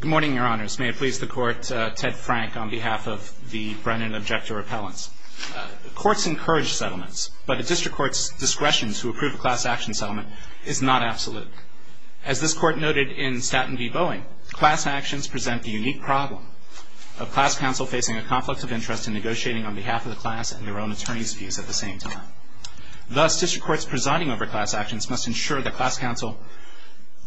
Good morning, Your Honors. May it please the Court, Ted Frank on behalf of the Brennan Objector Appellants. Courts encourage settlements, but a district court's discretion to approve a class action settlement is not absolute. As this Court noted in Staten v. Boeing, class actions present the unique problem of class counsel facing a conflict of interest in negotiating on behalf of the class and their own attorney's views at the same time. Thus, district courts presiding over class actions must ensure that class counsel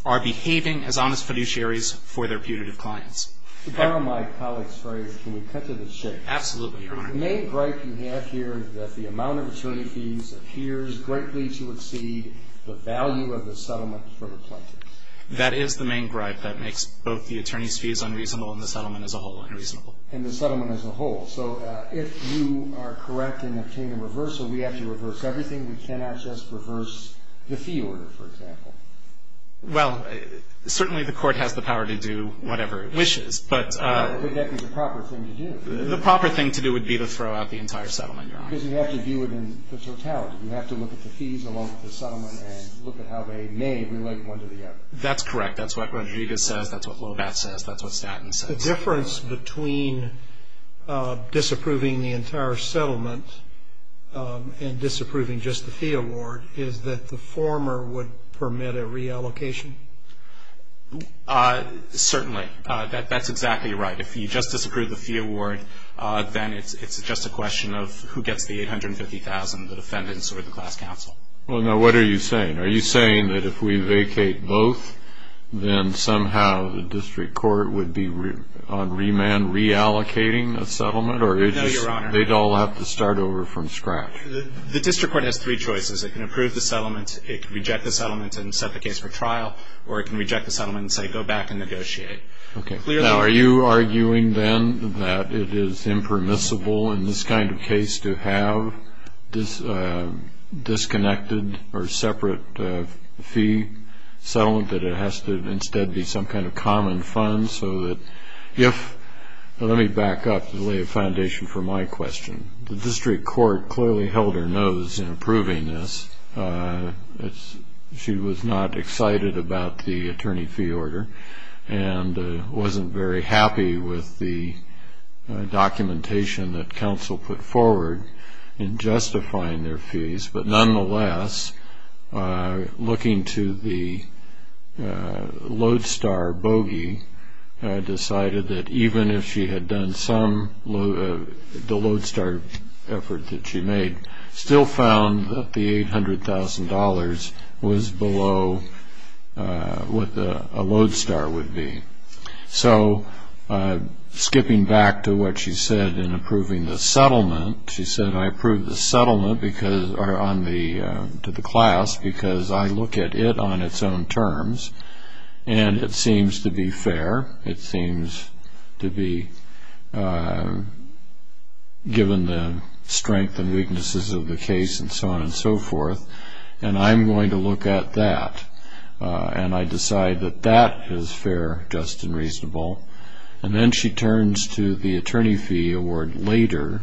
are behaving as honest fiduciaries for their putative clients. To borrow my colleague's phrase, can we cut to the chase? Absolutely, Your Honor. The main gripe you have here is that the amount of attorney fees appears greatly to exceed the value of the settlement for the plaintiff. That is the main gripe that makes both the attorney's fees unreasonable and the settlement as a whole unreasonable. And the settlement as a whole. So if you are correct in obtaining a reversal, we have to reverse everything? We cannot just reverse the fee order, for example? Well, certainly the Court has the power to do whatever it wishes. But that is a proper thing to do. The proper thing to do would be to throw out the entire settlement, Your Honor. Because you have to view it in the totality. You have to look at the fees along with the settlement and look at how they may relate one to the other. That's correct. That's what Rodriguez says. That's what Lobat says. That's what Staten says. The difference between disapproving the entire settlement and disapproving just the fee award is that the former would permit a reallocation? Certainly. That's exactly right. If you just disapprove the fee award, then it's just a question of who gets the $850,000, the defendants or the class counsel. Well, now what are you saying? Are you saying that if we vacate both, then somehow the district court would be on remand reallocating a settlement? No, Your Honor. Or they'd all have to start over from scratch? The district court has three choices. It can approve the settlement, it can reject the settlement and set the case for trial, or it can reject the settlement and say go back and negotiate. Okay. Now, are you arguing then that it is impermissible in this kind of case to have disconnected or separate fee settlement, that it has to instead be some kind of common fund so that if ‑‑ let me back up to lay a foundation for my question. The district court clearly held her nose in approving this. She was not excited about the attorney fee order and wasn't very happy with the documentation that counsel put forward in justifying their fees. But nonetheless, looking to the Lodestar bogey, decided that even if she had done some ‑‑ the Lodestar effort that she made, still found that the $800,000 was below what a Lodestar would be. So skipping back to what she said in approving the settlement, she said, I approve the settlement because ‑‑ or on the ‑‑ to the class because I look at it on its own terms and it seems to be fair. It seems to be given the strength and weaknesses of the case and so on and so forth. And I'm going to look at that. And I decide that that is fair, just and reasonable. And then she turns to the attorney fee award later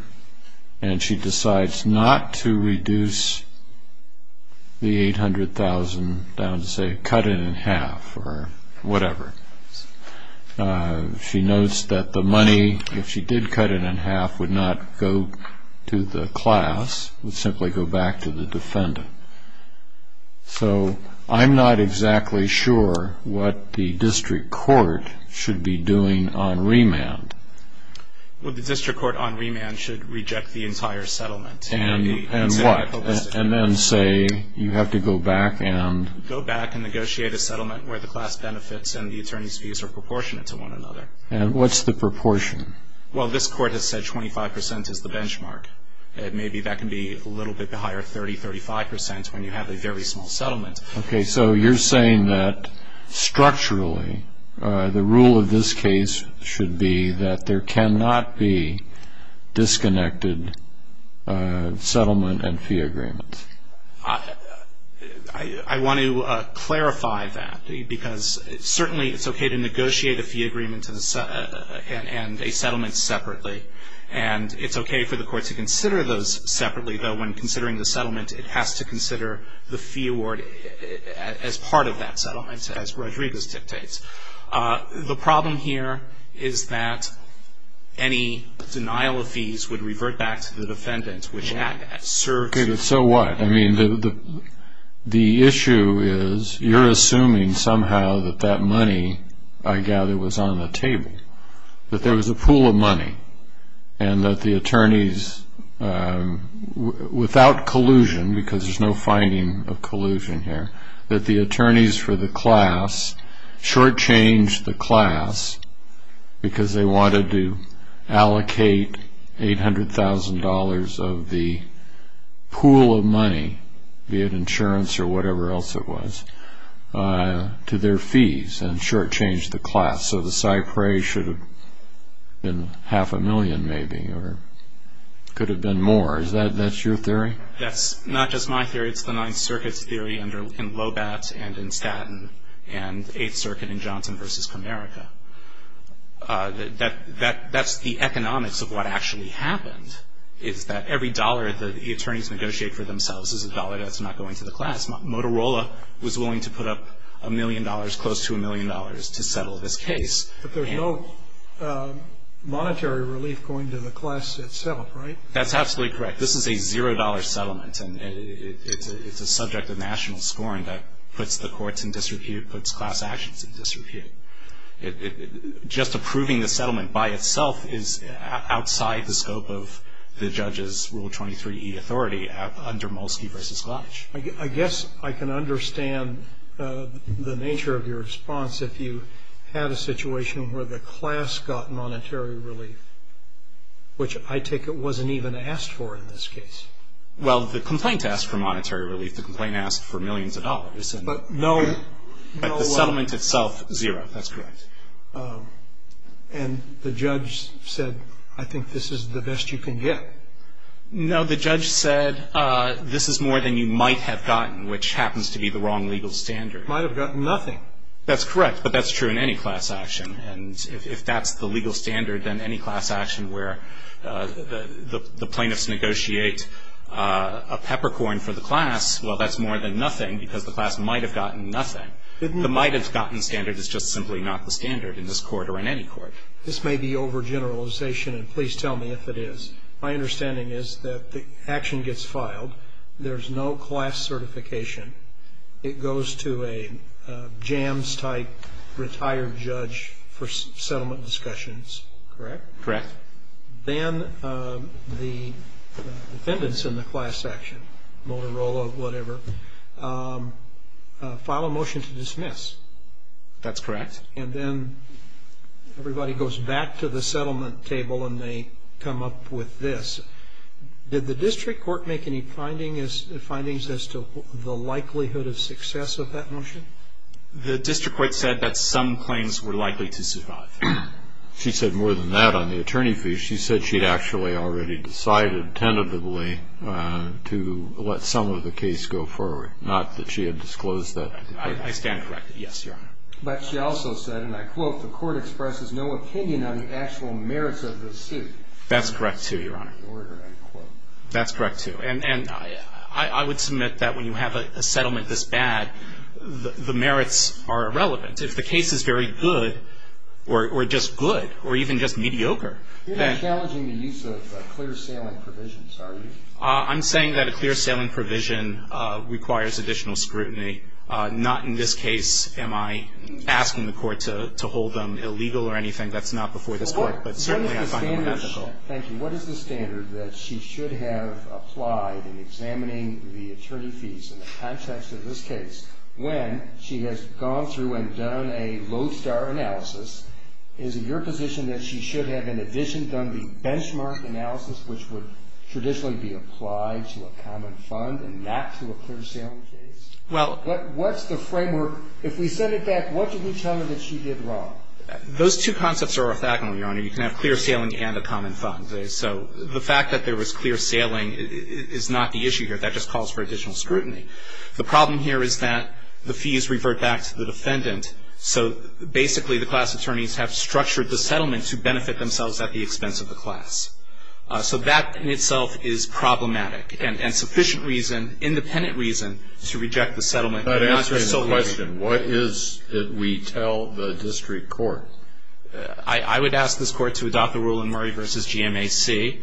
and she decides not to reduce the $800,000 down to, say, cut it in half or whatever. She notes that the money, if she did cut it in half, would not go to the class. It would simply go back to the defendant. So I'm not exactly sure what the district court should be doing on remand. Well, the district court on remand should reject the entire settlement. And what? And then say you have to go back and ‑‑ Go back and negotiate a settlement where the class benefits and the attorney's fees are proportionate to one another. And what's the proportion? Well, this court has said 25 percent is the benchmark. Maybe that can be a little bit higher, 30, 35 percent, when you have a very small settlement. Okay. So you're saying that structurally the rule of this case should be that there cannot be disconnected settlement and fee agreements. I want to clarify that because certainly it's okay to negotiate a fee agreement and a settlement separately. And it's okay for the court to consider those separately, though when considering the settlement it has to consider the fee award as part of that settlement, as Rodriguez dictates. The problem here is that any denial of fees would revert back to the defendant, which serves ‑‑ Okay, but so what? I mean, the issue is you're assuming somehow that that money, I gather, was on the table, that there was a pool of money and that the attorneys, without collusion, because there's no finding of collusion here, that the attorneys for the class shortchanged the class because they wanted to allocate $800,000 of the pool of money, be it insurance or whatever else it was, to their fees and shortchanged the class. So the Cypre should have been half a million maybe or could have been more. Is that your theory? That's not just my theory. It's the Ninth Circuit's theory in Lobat and in Staten and Eighth Circuit in Johnson v. Comerica. That's the economics of what actually happened, is that every dollar that the attorneys negotiate for themselves is a dollar that's not going to the class. Motorola was willing to put up a million dollars, close to a million dollars, to settle this case. But there's no monetary relief going to the class itself, right? That's absolutely correct. This is a $0 settlement and it's a subject of national scoring that puts the courts in disrepute, puts class actions in disrepute. Just approving the settlement by itself is outside the scope of the judge's Rule 23e authority under Molsky v. Glodge. I guess I can understand the nature of your response if you had a situation where the class got monetary relief, which I take it wasn't even asked for in this case. Well, the complaint asked for monetary relief. The complaint asked for millions of dollars. But the settlement itself, zero. That's correct. And the judge said, I think this is the best you can get. No, the judge said this is more than you might have gotten, which happens to be the wrong legal standard. Might have gotten nothing. That's correct. But that's true in any class action. And if that's the legal standard, then any class action where the plaintiffs negotiate a peppercorn for the class, well, that's more than nothing because the class might have gotten nothing. The might have gotten standard is just simply not the standard in this court or in any court. This may be overgeneralization, and please tell me if it is. My understanding is that the action gets filed. There's no class certification. It goes to a jams-type retired judge for settlement discussions, correct? Correct. Then the defendants in the class action, Motorola, whatever, file a motion to dismiss. That's correct. And then everybody goes back to the settlement table and they come up with this. Did the district court make any findings as to the likelihood of success of that motion? The district court said that some claims were likely to survive. She said more than that on the attorney fee. She said she'd actually already decided tentatively to let some of the case go forward, not that she had disclosed that to the plaintiffs. I stand corrected, yes, Your Honor. But she also said, and I quote, the court expresses no opinion on the actual merits of the suit. That's correct, too, Your Honor. That's correct, too. And I would submit that when you have a settlement this bad, the merits are irrelevant. If the case is very good or just good or even just mediocre. You're not challenging the use of clear-sailing provisions, are you? I'm saying that a clear-sailing provision requires additional scrutiny. Not in this case am I asking the court to hold them illegal or anything. That's not before this court, but certainly I find it ethical. Thank you. What is the standard that she should have applied in examining the attorney fees in the context of this case when she has gone through and done a low-star analysis? Is it your position that she should have, in addition, done the benchmark analysis, which would traditionally be applied to a common fund and not to a clear-sailing case? Well. What's the framework? If we send it back, what did you tell her that she did wrong? Those two concepts are orthogonal, Your Honor. You can have clear-sailing and a common fund. So the fact that there was clear-sailing is not the issue here. That just calls for additional scrutiny. The problem here is that the fees revert back to the defendant. So basically the class attorneys have structured the settlement to benefit themselves at the expense of the class. So that in itself is problematic and sufficient reason, independent reason, to reject the settlement. But answering the question, what is it we tell the district court? I would ask this court to adopt the rule in Murray v. GMAC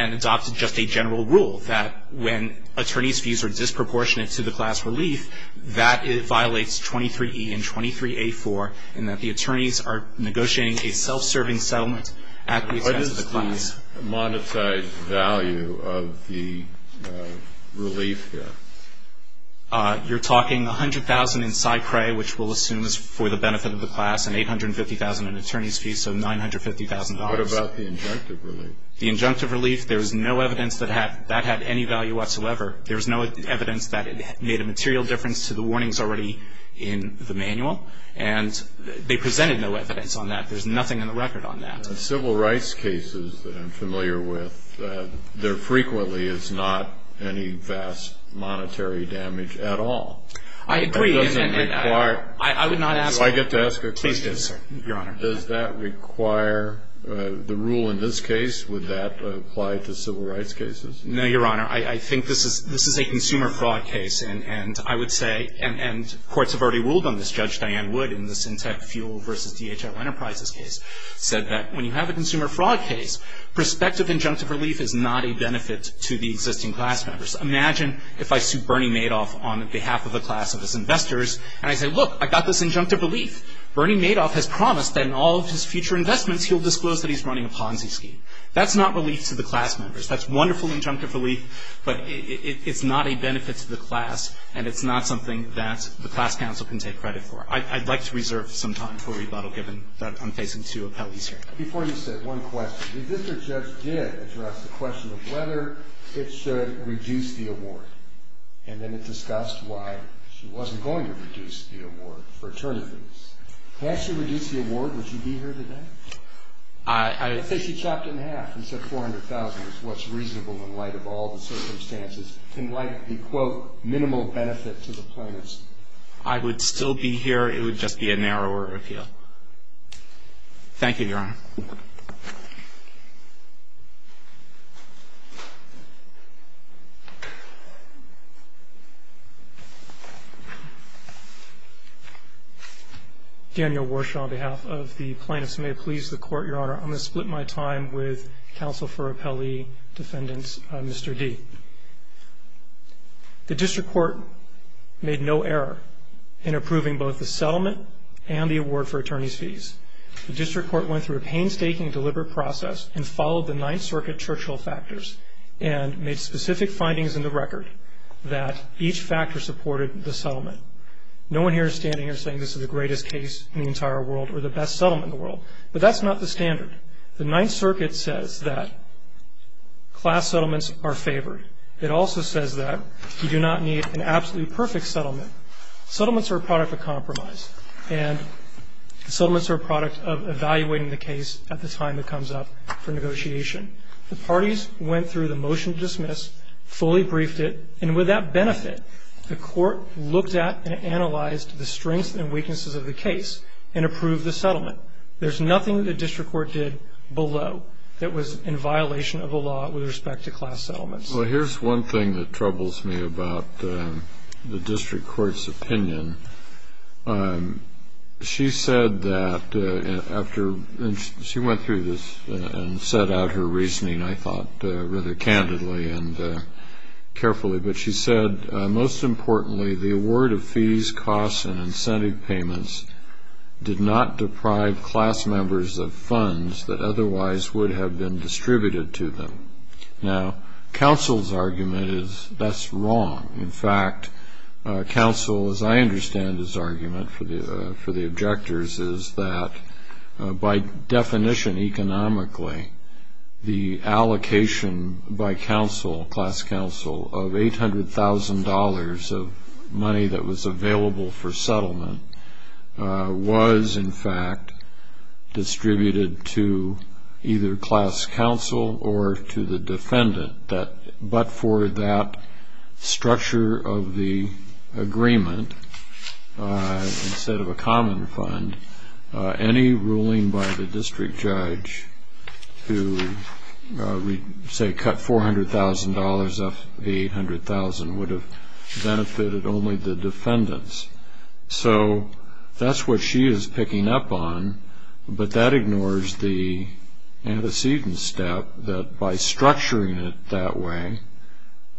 and adopt just a general rule that when attorney's fees are disproportionate to the class relief, that it violates 23E and 23A4 and that the attorneys are negotiating a self-serving settlement at the expense of the class. What is the monetized value of the relief here? You're talking $100,000 in side prey, which we'll assume is for the benefit of the class, and $850,000 in attorney's fees, so $950,000. What about the injunctive relief? The injunctive relief, there's no evidence that that had any value whatsoever. There's no evidence that it made a material difference to the warnings already in the manual. And they presented no evidence on that. There's nothing in the record on that. In civil rights cases that I'm familiar with, there frequently is not any vast monetary damage at all. I agree. That doesn't require. I would not ask. Do I get to ask a question? Please do, sir, Your Honor. Does that require the rule in this case? Would that apply to civil rights cases? No, Your Honor. I think this is a consumer fraud case. And courts have already ruled on this. Judge Diane Wood in the Syntec Fuel v. DHL Enterprises case said that when you have a consumer fraud case, prospective injunctive relief is not a benefit to the existing class members. Imagine if I sued Bernie Madoff on behalf of a class of his investors, and I say, look, I got this injunctive relief. Bernie Madoff has promised that in all of his future investments he'll disclose that he's running a Ponzi scheme. That's not relief to the class members. That's wonderful injunctive relief, but it's not a benefit to the class, and it's not something that the class counsel can take credit for. I'd like to reserve some time for rebuttal given that I'm facing two appellees here. Before you sit, one question. The existing judge did address the question of whether it should reduce the award, and then it discussed why she wasn't going to reduce the award for attorneys. Had she reduced the award, would she be here today? I'd say she chopped it in half and said $400,000 is what's reasonable in light of all the circumstances, in light of the, quote, minimal benefit to the plaintiffs. I would still be here. It would just be a narrower appeal. Thank you, Your Honor. Daniel Warshaw on behalf of the plaintiffs. May it please the Court, Your Honor, I'm going to split my time with counsel for appellee defendants, Mr. D. The district court made no error in approving both the settlement and the award for attorneys' fees. The district court went through a painstaking, deliberate process and followed the Ninth Circuit Churchill factors and made specific findings in the record that each factor supported the settlement. No one here is standing here saying this is the greatest case in the entire world or the best settlement in the world, but that's not the standard. The Ninth Circuit says that class settlements are favored. It also says that you do not need an absolutely perfect settlement. Settlements are a product of compromise, and settlements are a product of evaluating the case at the time it comes up for negotiation. The parties went through the motion to dismiss, fully briefed it, and with that benefit the court looked at and analyzed the strengths and weaknesses of the case and approved the settlement. There's nothing the district court did below that was in violation of the law with respect to class settlements. Well, here's one thing that troubles me about the district court's opinion. She said that after she went through this and set out her reasoning, I thought, rather candidly and carefully, but she said, most importantly, the award of fees, costs, and incentive payments did not deprive class members of funds that otherwise would have been distributed to them. Now, counsel's argument is that's wrong. In fact, counsel, as I understand his argument for the objectors, is that by definition economically the allocation by counsel, class counsel, of $800,000 of money that was available for settlement was, in fact, distributed to either class counsel or to the defendant. But for that structure of the agreement, instead of a common fund, any ruling by the district judge to, say, cut $400,000 off the $800,000 would have benefited only the defendants. So that's what she is picking up on, but that ignores the antecedent step that by structuring it that way,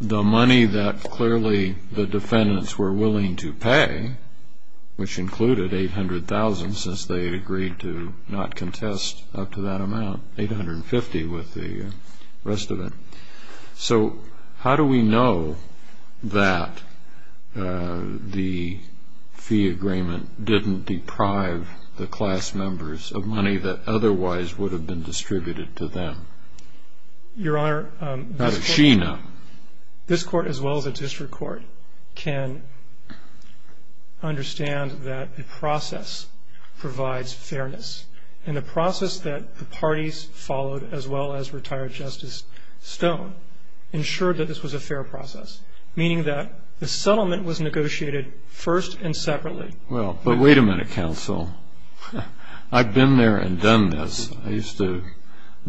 the money that clearly the defendants were willing to pay, which included $800,000 since they had agreed to not contest up to that amount, $850,000 with the rest of it. So how do we know that the fee agreement didn't deprive the class members of money that otherwise would have been distributed to them? Your Honor, this court, as well as a district court, can understand that a process provides fairness. And the process that the parties followed, as well as retired Justice Stone, ensured that this was a fair process, meaning that the settlement was negotiated first and separately. Well, but wait a minute, counsel. I've been there and done this. I used to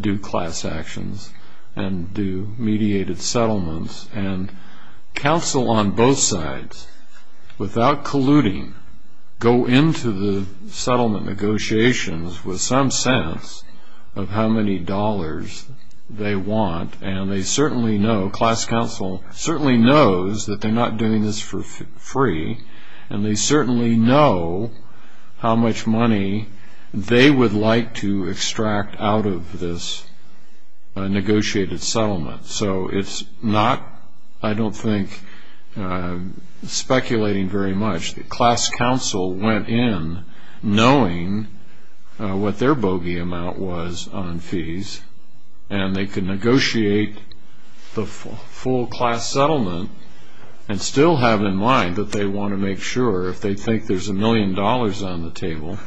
do class actions and do mediated settlements. And counsel on both sides, without colluding, go into the settlement negotiations with some sense of how many dollars they want. And they certainly know, class counsel certainly knows, that they're not doing this for free. And they certainly know how much money they would like to extract out of this negotiated settlement. So it's not, I don't think, speculating very much. Class counsel went in knowing what their bogey amount was on fees, and they could negotiate the full class settlement and still have in mind that they want to make sure, if they think there's a million dollars on the table,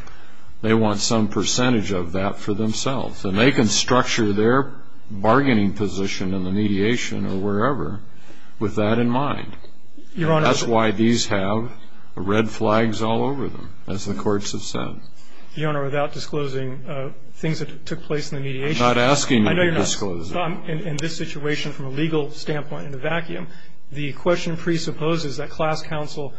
they want some percentage of that for themselves. And they can structure their bargaining position in the mediation or wherever with that in mind. Your Honor. That's why these have red flags all over them, as the courts have said. Your Honor, without disclosing things that took place in the mediation. I'm not asking you to disclose them. I know you're not. In this situation, from a legal standpoint, in a vacuum, the question presupposes that class counsel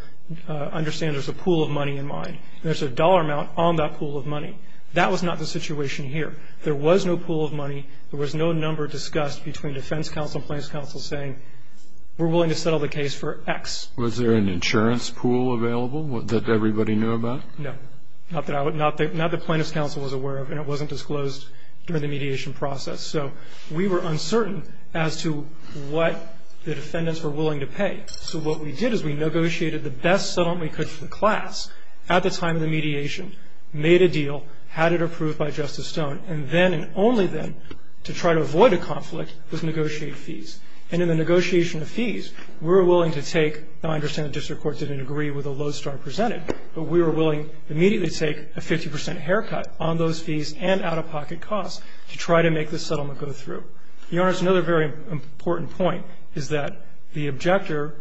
understands there's a pool of money in mind. There's a dollar amount on that pool of money. That was not the situation here. There was no pool of money. There was no number discussed between defense counsel and plaintiff's counsel saying we're willing to settle the case for X. Was there an insurance pool available that everybody knew about? No. Not that plaintiff's counsel was aware of, and it wasn't disclosed during the mediation process. So we were uncertain as to what the defendants were willing to pay. So what we did is we negotiated the best settlement we could for the class at the time of the mediation, made a deal, had it approved by Justice Stone, and then and only then, to try to avoid a conflict, was negotiate fees. And in the negotiation of fees, we were willing to take, I understand the district court didn't agree with the lodestar presented, but we were willing to immediately take a 50 percent haircut on those fees and out-of-pocket costs to try to make this settlement go through. Your Honor, it's another very important point, is that the objector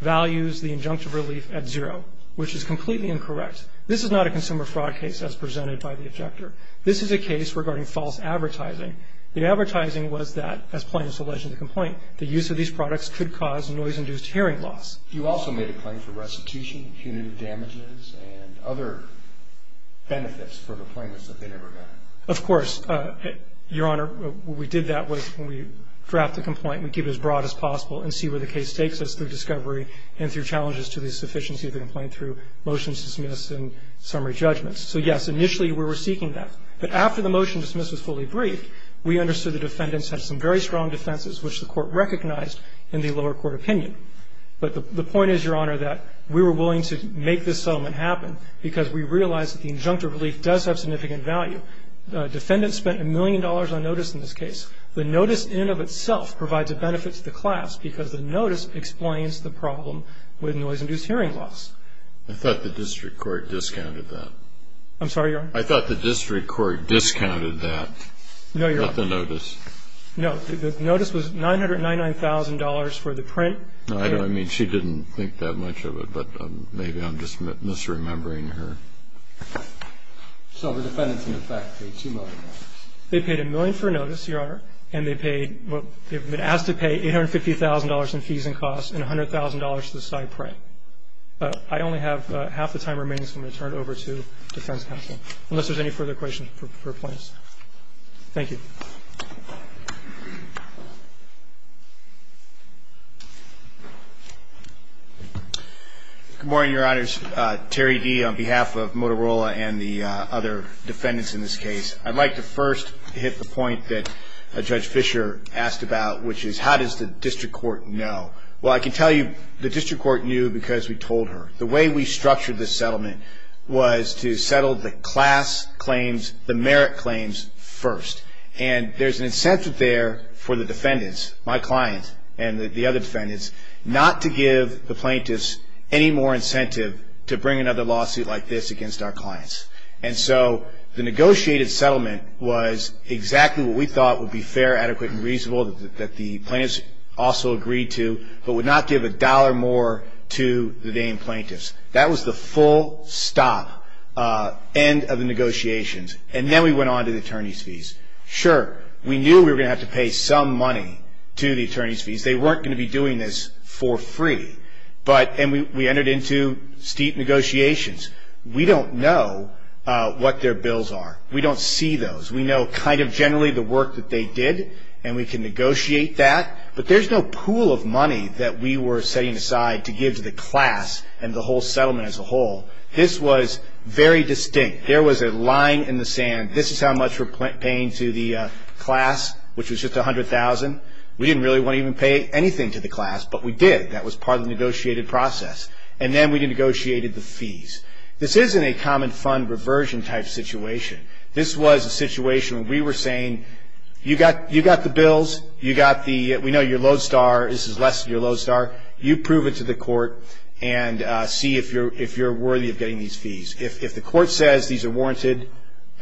values the injunctive relief at zero, which is completely incorrect. This is not a consumer fraud case as presented by the objector. This is a case regarding false advertising. The advertising was that, as plaintiffs alleged in the complaint, the use of these products could cause noise-induced hearing loss. You also made a claim for restitution, punitive damages, and other benefits for the plaintiffs that they never got. Of course. Your Honor, we did that when we drafted the complaint. We gave it as broad as possible and see where the case takes us through discovery and through challenges to the sufficiency of the complaint through motions dismissed and summary judgments. So, yes, initially we were seeking that. But after the motion dismissed was fully briefed, we understood the defendants had some very strong defenses, which the Court recognized in the lower court opinion. But the point is, Your Honor, that we were willing to make this settlement happen because we realized that the injunctive relief does have significant value. Defendants spent a million dollars on notice in this case. The notice in and of itself provides a benefit to the class because the notice explains the problem with noise-induced hearing loss. I thought the district court discounted that. I'm sorry, Your Honor? I thought the district court discounted that. No, Your Honor. Not the notice. No. The notice was $999,000 for the print. I mean, she didn't think that much of it, but maybe I'm just misremembering her. So the defendants in effect paid $2 million. They paid $1 million for notice, Your Honor. And they paid what they've been asked to pay, $850,000 in fees and costs, and $100,000 to the side print. I only have half the time remaining, so I'm going to turn it over to defense counsel, unless there's any further questions for plaintiffs. Thank you. Good morning, Your Honors. Terry Dee on behalf of Motorola and the other defendants in this case. I'd like to first hit the point that Judge Fischer asked about, which is, how does the district court know? Well, I can tell you the district court knew because we told her. The way we structured this settlement was to settle the class claims, the merit claims, first. And there's an incentive there for the defendants, my client and the other defendants, not to give the plaintiffs any more incentive to bring another lawsuit like this against our clients. And so the negotiated settlement was exactly what we thought would be fair, adequate, and reasonable, that the plaintiffs also agreed to, but would not give a dollar more to the named plaintiffs. That was the full stop, end of the negotiations. And then we went on to the attorney's fees. Sure, we knew we were going to have to pay some money to the attorney's fees. They weren't going to be doing this for free. And we entered into steep negotiations. We don't know what their bills are. We don't see those. We know kind of generally the work that they did, and we can negotiate that. But there's no pool of money that we were setting aside to give to the class and the whole settlement as a whole. This was very distinct. There was a line in the sand. This is how much we're paying to the class, which was just $100,000. We didn't really want to even pay anything to the class, but we did. That was part of the negotiated process. And then we negotiated the fees. This isn't a common fund reversion type situation. This was a situation where we were saying, you've got the bills. We know you're Lodestar. This is less than you're Lodestar. You prove it to the court and see if you're worthy of getting these fees. If the court says these are warranted,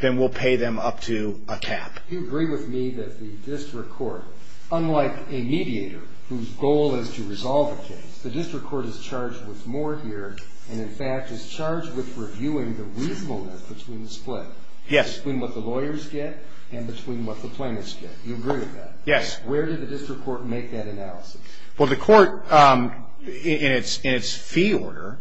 then we'll pay them up to a cap. Do you agree with me that the district court, unlike a mediator, whose goal is to resolve a case, the district court is charged with more here between what the lawyers get and between what the plaintiffs get. Do you agree with that? Yes. Where did the district court make that analysis? Well, the court, in its fee order,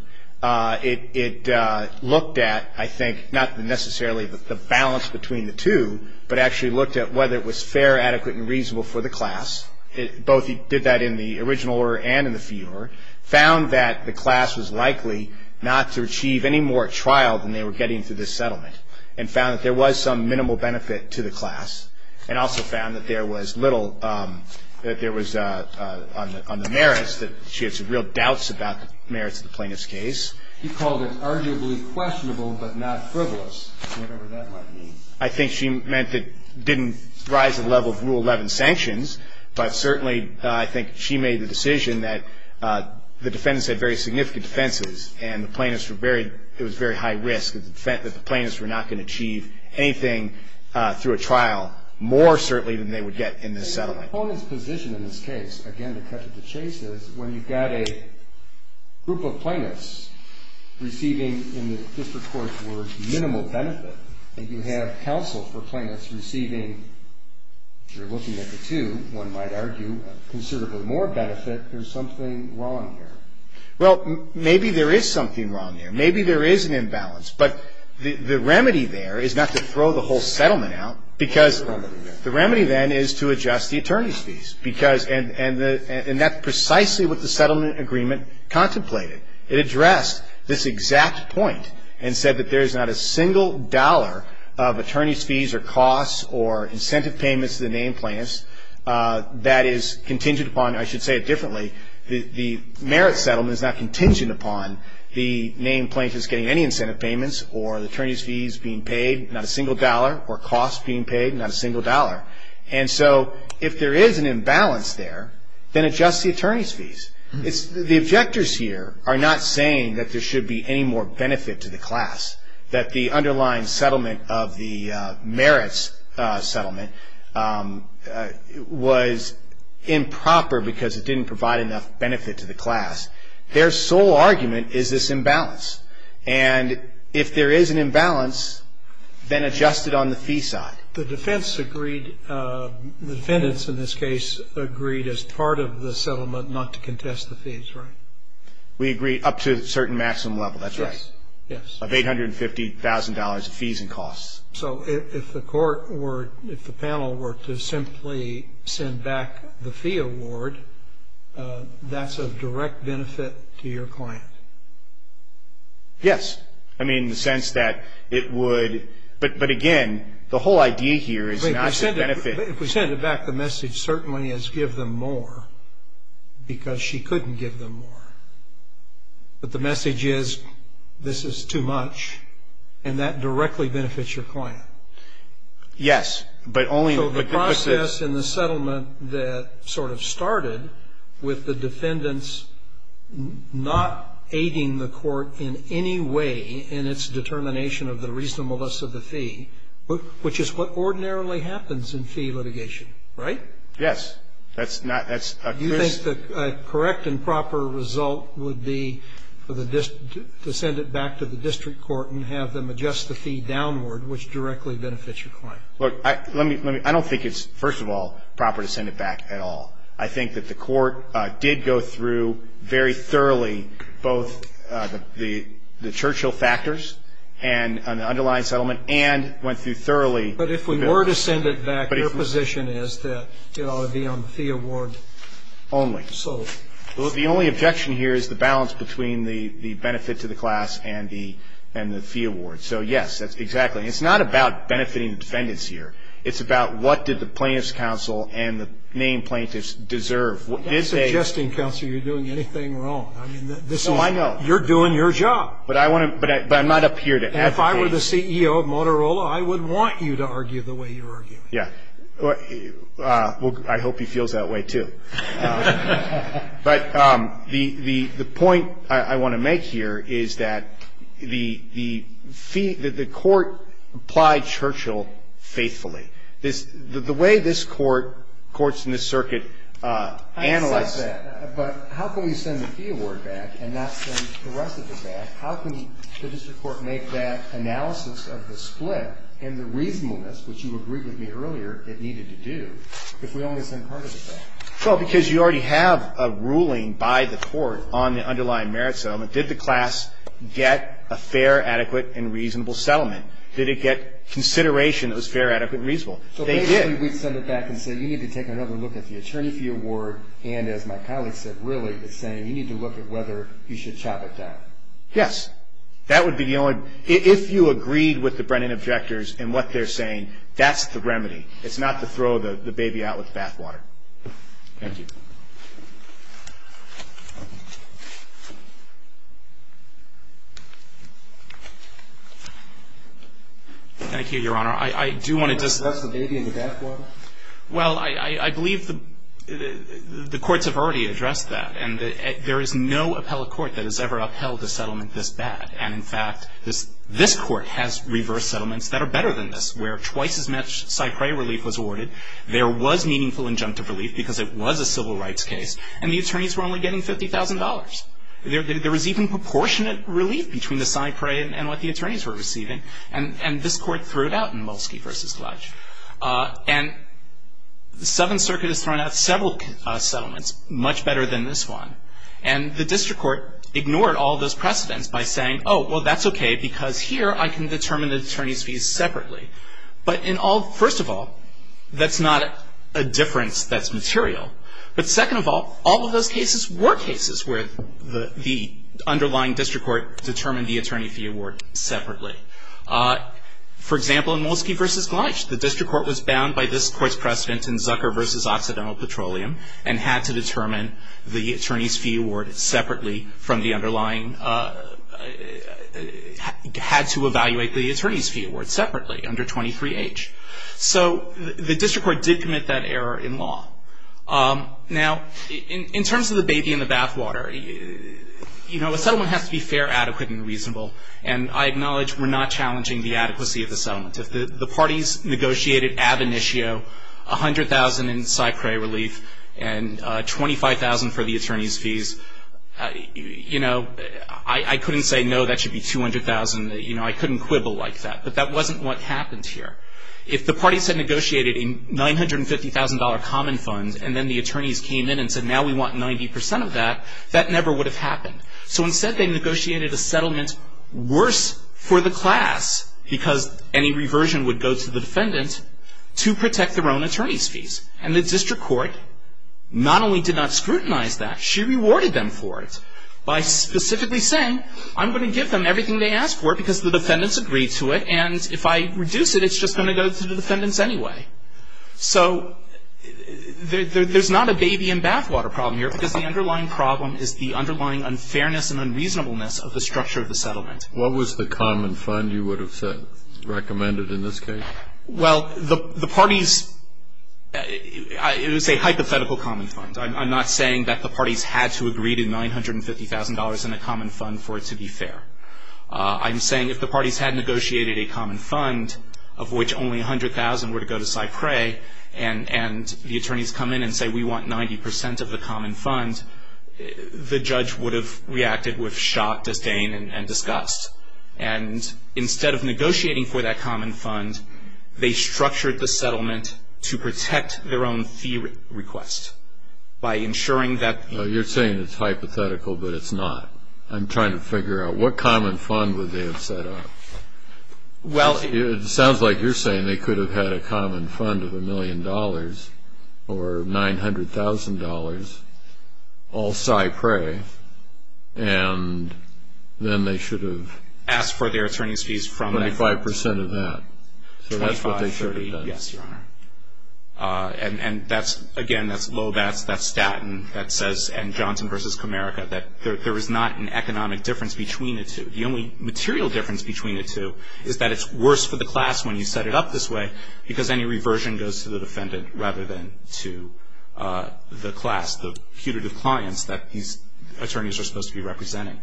it looked at, I think, not necessarily the balance between the two, but actually looked at whether it was fair, adequate, and reasonable for the class. Both did that in the original order and in the fee order. Found that the class was likely not to achieve any more trial than they were getting through this settlement. And found that there was some minimal benefit to the class. And also found that there was little, that there was, on the merits, that she had some real doubts about the merits of the plaintiff's case. You called it arguably questionable but not frivolous, whatever that might mean. I think she meant that it didn't rise to the level of Rule 11 sanctions, but certainly I think she made the decision that the defendants had very significant defenses and the plaintiffs were very, it was very high risk, that the plaintiffs were not going to achieve anything through a trial more certainly than they would get in this settlement. The opponent's position in this case, again, to cut to the chase, is when you've got a group of plaintiffs receiving, in the district court's words, minimal benefit, and you have counsel for plaintiffs receiving, if you're looking at the two, one might argue, considerably more benefit, there's something wrong here. Well, maybe there is something wrong there. Maybe there is an imbalance. But the remedy there is not to throw the whole settlement out, because the remedy then is to adjust the attorney's fees. Because, and that's precisely what the settlement agreement contemplated. It addressed this exact point and said that there is not a single dollar of attorney's fees or costs or incentive payments to the named plaintiffs that is contingent upon, I should say it differently, the merit settlement is not contingent upon the named plaintiffs getting any incentive payments or the attorney's fees being paid, not a single dollar, or costs being paid, not a single dollar. And so if there is an imbalance there, then adjust the attorney's fees. The objectors here are not saying that there should be any more benefit to the class, that the underlying settlement of the merits settlement was improper because it didn't provide enough benefit to the class. Their sole argument is this imbalance. And if there is an imbalance, then adjust it on the fee side. The defense agreed, the defendants in this case, agreed as part of the settlement not to contest the fees, right? We agreed up to a certain maximum level, that's right. Yes. Of $850,000 of fees and costs. So if the court were, if the panel were to simply send back the fee award, that's of direct benefit to your client? Yes. I mean in the sense that it would, but again, the whole idea here is not to benefit. If we send it back, the message certainly is give them more because she couldn't give them more. But the message is this is too much, and that directly benefits your client. Yes. So the process in the settlement that sort of started with the defendants not aiding the court in any way in its determination of the reasonableness of the fee, which is what ordinarily happens in fee litigation, right? Yes. Do you think the correct and proper result would be for the district, to send it back to the district court and have them adjust the fee downward, which directly benefits your client? Look, let me, I don't think it's, first of all, proper to send it back at all. I think that the court did go through very thoroughly both the Churchill factors and the underlying settlement and went through thoroughly. But if we were to send it back, your position is that it ought to be on the fee award. Only. So. The only objection here is the balance between the benefit to the class and the fee award. So, yes, exactly. It's not about benefiting the defendants here. It's about what did the plaintiff's counsel and the named plaintiffs deserve. That's suggesting, counsel, you're doing anything wrong. No, I know. You're doing your job. But I want to, but I'm not up here to advocate. If you were the CEO of Motorola, I would want you to argue the way you're arguing. Yeah. Well, I hope he feels that way, too. But the point I want to make here is that the fee, that the court applied Churchill faithfully. The way this court, courts in this circuit, analyze. I accept that. But how can we send the fee award back and not send the rest of it back? How can the district court make that analysis of the split and the reasonableness, which you agreed with me earlier, it needed to do, if we only send part of it back? Well, because you already have a ruling by the court on the underlying merit settlement. Did the class get a fair, adequate, and reasonable settlement? Did it get consideration that was fair, adequate, and reasonable? They did. So, basically, we'd send it back and say, you need to take another look at the attorney fee award. And, as my colleague said, really, it's saying you need to look at whether you should chop it down. Yes. That would be the only. If you agreed with the Brennan objectors and what they're saying, that's the remedy. It's not to throw the baby out with the bathwater. Thank you. Thank you, Your Honor. I do want to just. That's the baby in the bathwater? Well, I believe the courts have already addressed that. And there is no appellate court that has ever upheld a settlement this bad. And, in fact, this court has reversed settlements that are better than this, where twice as much Cypre relief was awarded. There was meaningful injunctive relief because it was a civil rights case. And the attorneys were only getting $50,000. There was even proportionate relief between the Cypre and what the attorneys were receiving. And the Seventh Circuit has thrown out several settlements much better than this one. And the district court ignored all those precedents by saying, oh, well, that's okay, because here I can determine the attorney's fees separately. But, first of all, that's not a difference that's material. But, second of all, all of those cases were cases where the underlying district court determined the attorney fee award separately. For example, in Molsky v. Glynch, the district court was bound by this court's precedent in Zucker v. Occidental Petroleum and had to determine the attorney's fee award separately from the underlying, had to evaluate the attorney's fee award separately under 23H. So the district court did commit that error in law. Now, in terms of the baby in the bathwater, you know, a settlement has to be fair, adequate, and reasonable. And I acknowledge we're not challenging the adequacy of the settlement. If the parties negotiated ab initio, 100,000 in Cypre relief, and 25,000 for the attorney's fees, you know, I couldn't say, no, that should be 200,000. You know, I couldn't quibble like that. But that wasn't what happened here. If the parties had negotiated a $950,000 common fund, and then the attorneys came in and said, now we want 90% of that, that never would have happened. So instead they negotiated a settlement worse for the class because any reversion would go to the defendant to protect their own attorney's fees. And the district court not only did not scrutinize that, she rewarded them for it by specifically saying, I'm going to give them everything they ask for because the defendants agreed to it, and if I reduce it, it's just going to go to the defendants anyway. So there's not a baby in bathwater problem here because the underlying problem is the underlying unfairness and unreasonableness of the structure of the settlement. What was the common fund you would have recommended in this case? Well, the parties, it was a hypothetical common fund. I'm not saying that the parties had to agree to $950,000 in a common fund for it to be fair. I'm saying if the parties had negotiated a common fund of which only 100,000 were to go to Cypre and the attorneys come in and say we want 90% of the common fund, the judge would have reacted with shock, disdain, and disgust. And instead of negotiating for that common fund, they structured the settlement to protect their own fee request by ensuring that... You're saying it's hypothetical, but it's not. I'm trying to figure out what common fund would they have set up. It sounds like you're saying they could have had a common fund of $1 million or $900,000 all Cypre, and then they should have... Asked for their attorney's fees from...... 25% of that. So that's what they should have done. Yes, Your Honor. And, again, that's low. That's Staten that says, and Johnson v. Comerica, that there is not an economic difference between the two. The only material difference between the two is that it's worse for the class when you set it up this way because any reversion goes to the defendant rather than to the class, the putative clients that these attorneys are supposed to be representing.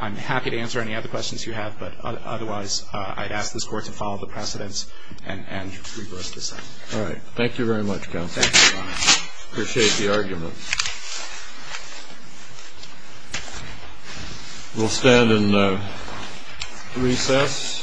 I'm happy to answer any other questions you have, but otherwise I'd ask this Court to follow the precedents and reverse the settlement. All right. Thank you very much, counsel. Thank you, Your Honor. Appreciate the argument. We'll stand and recess. This Court is adjourned.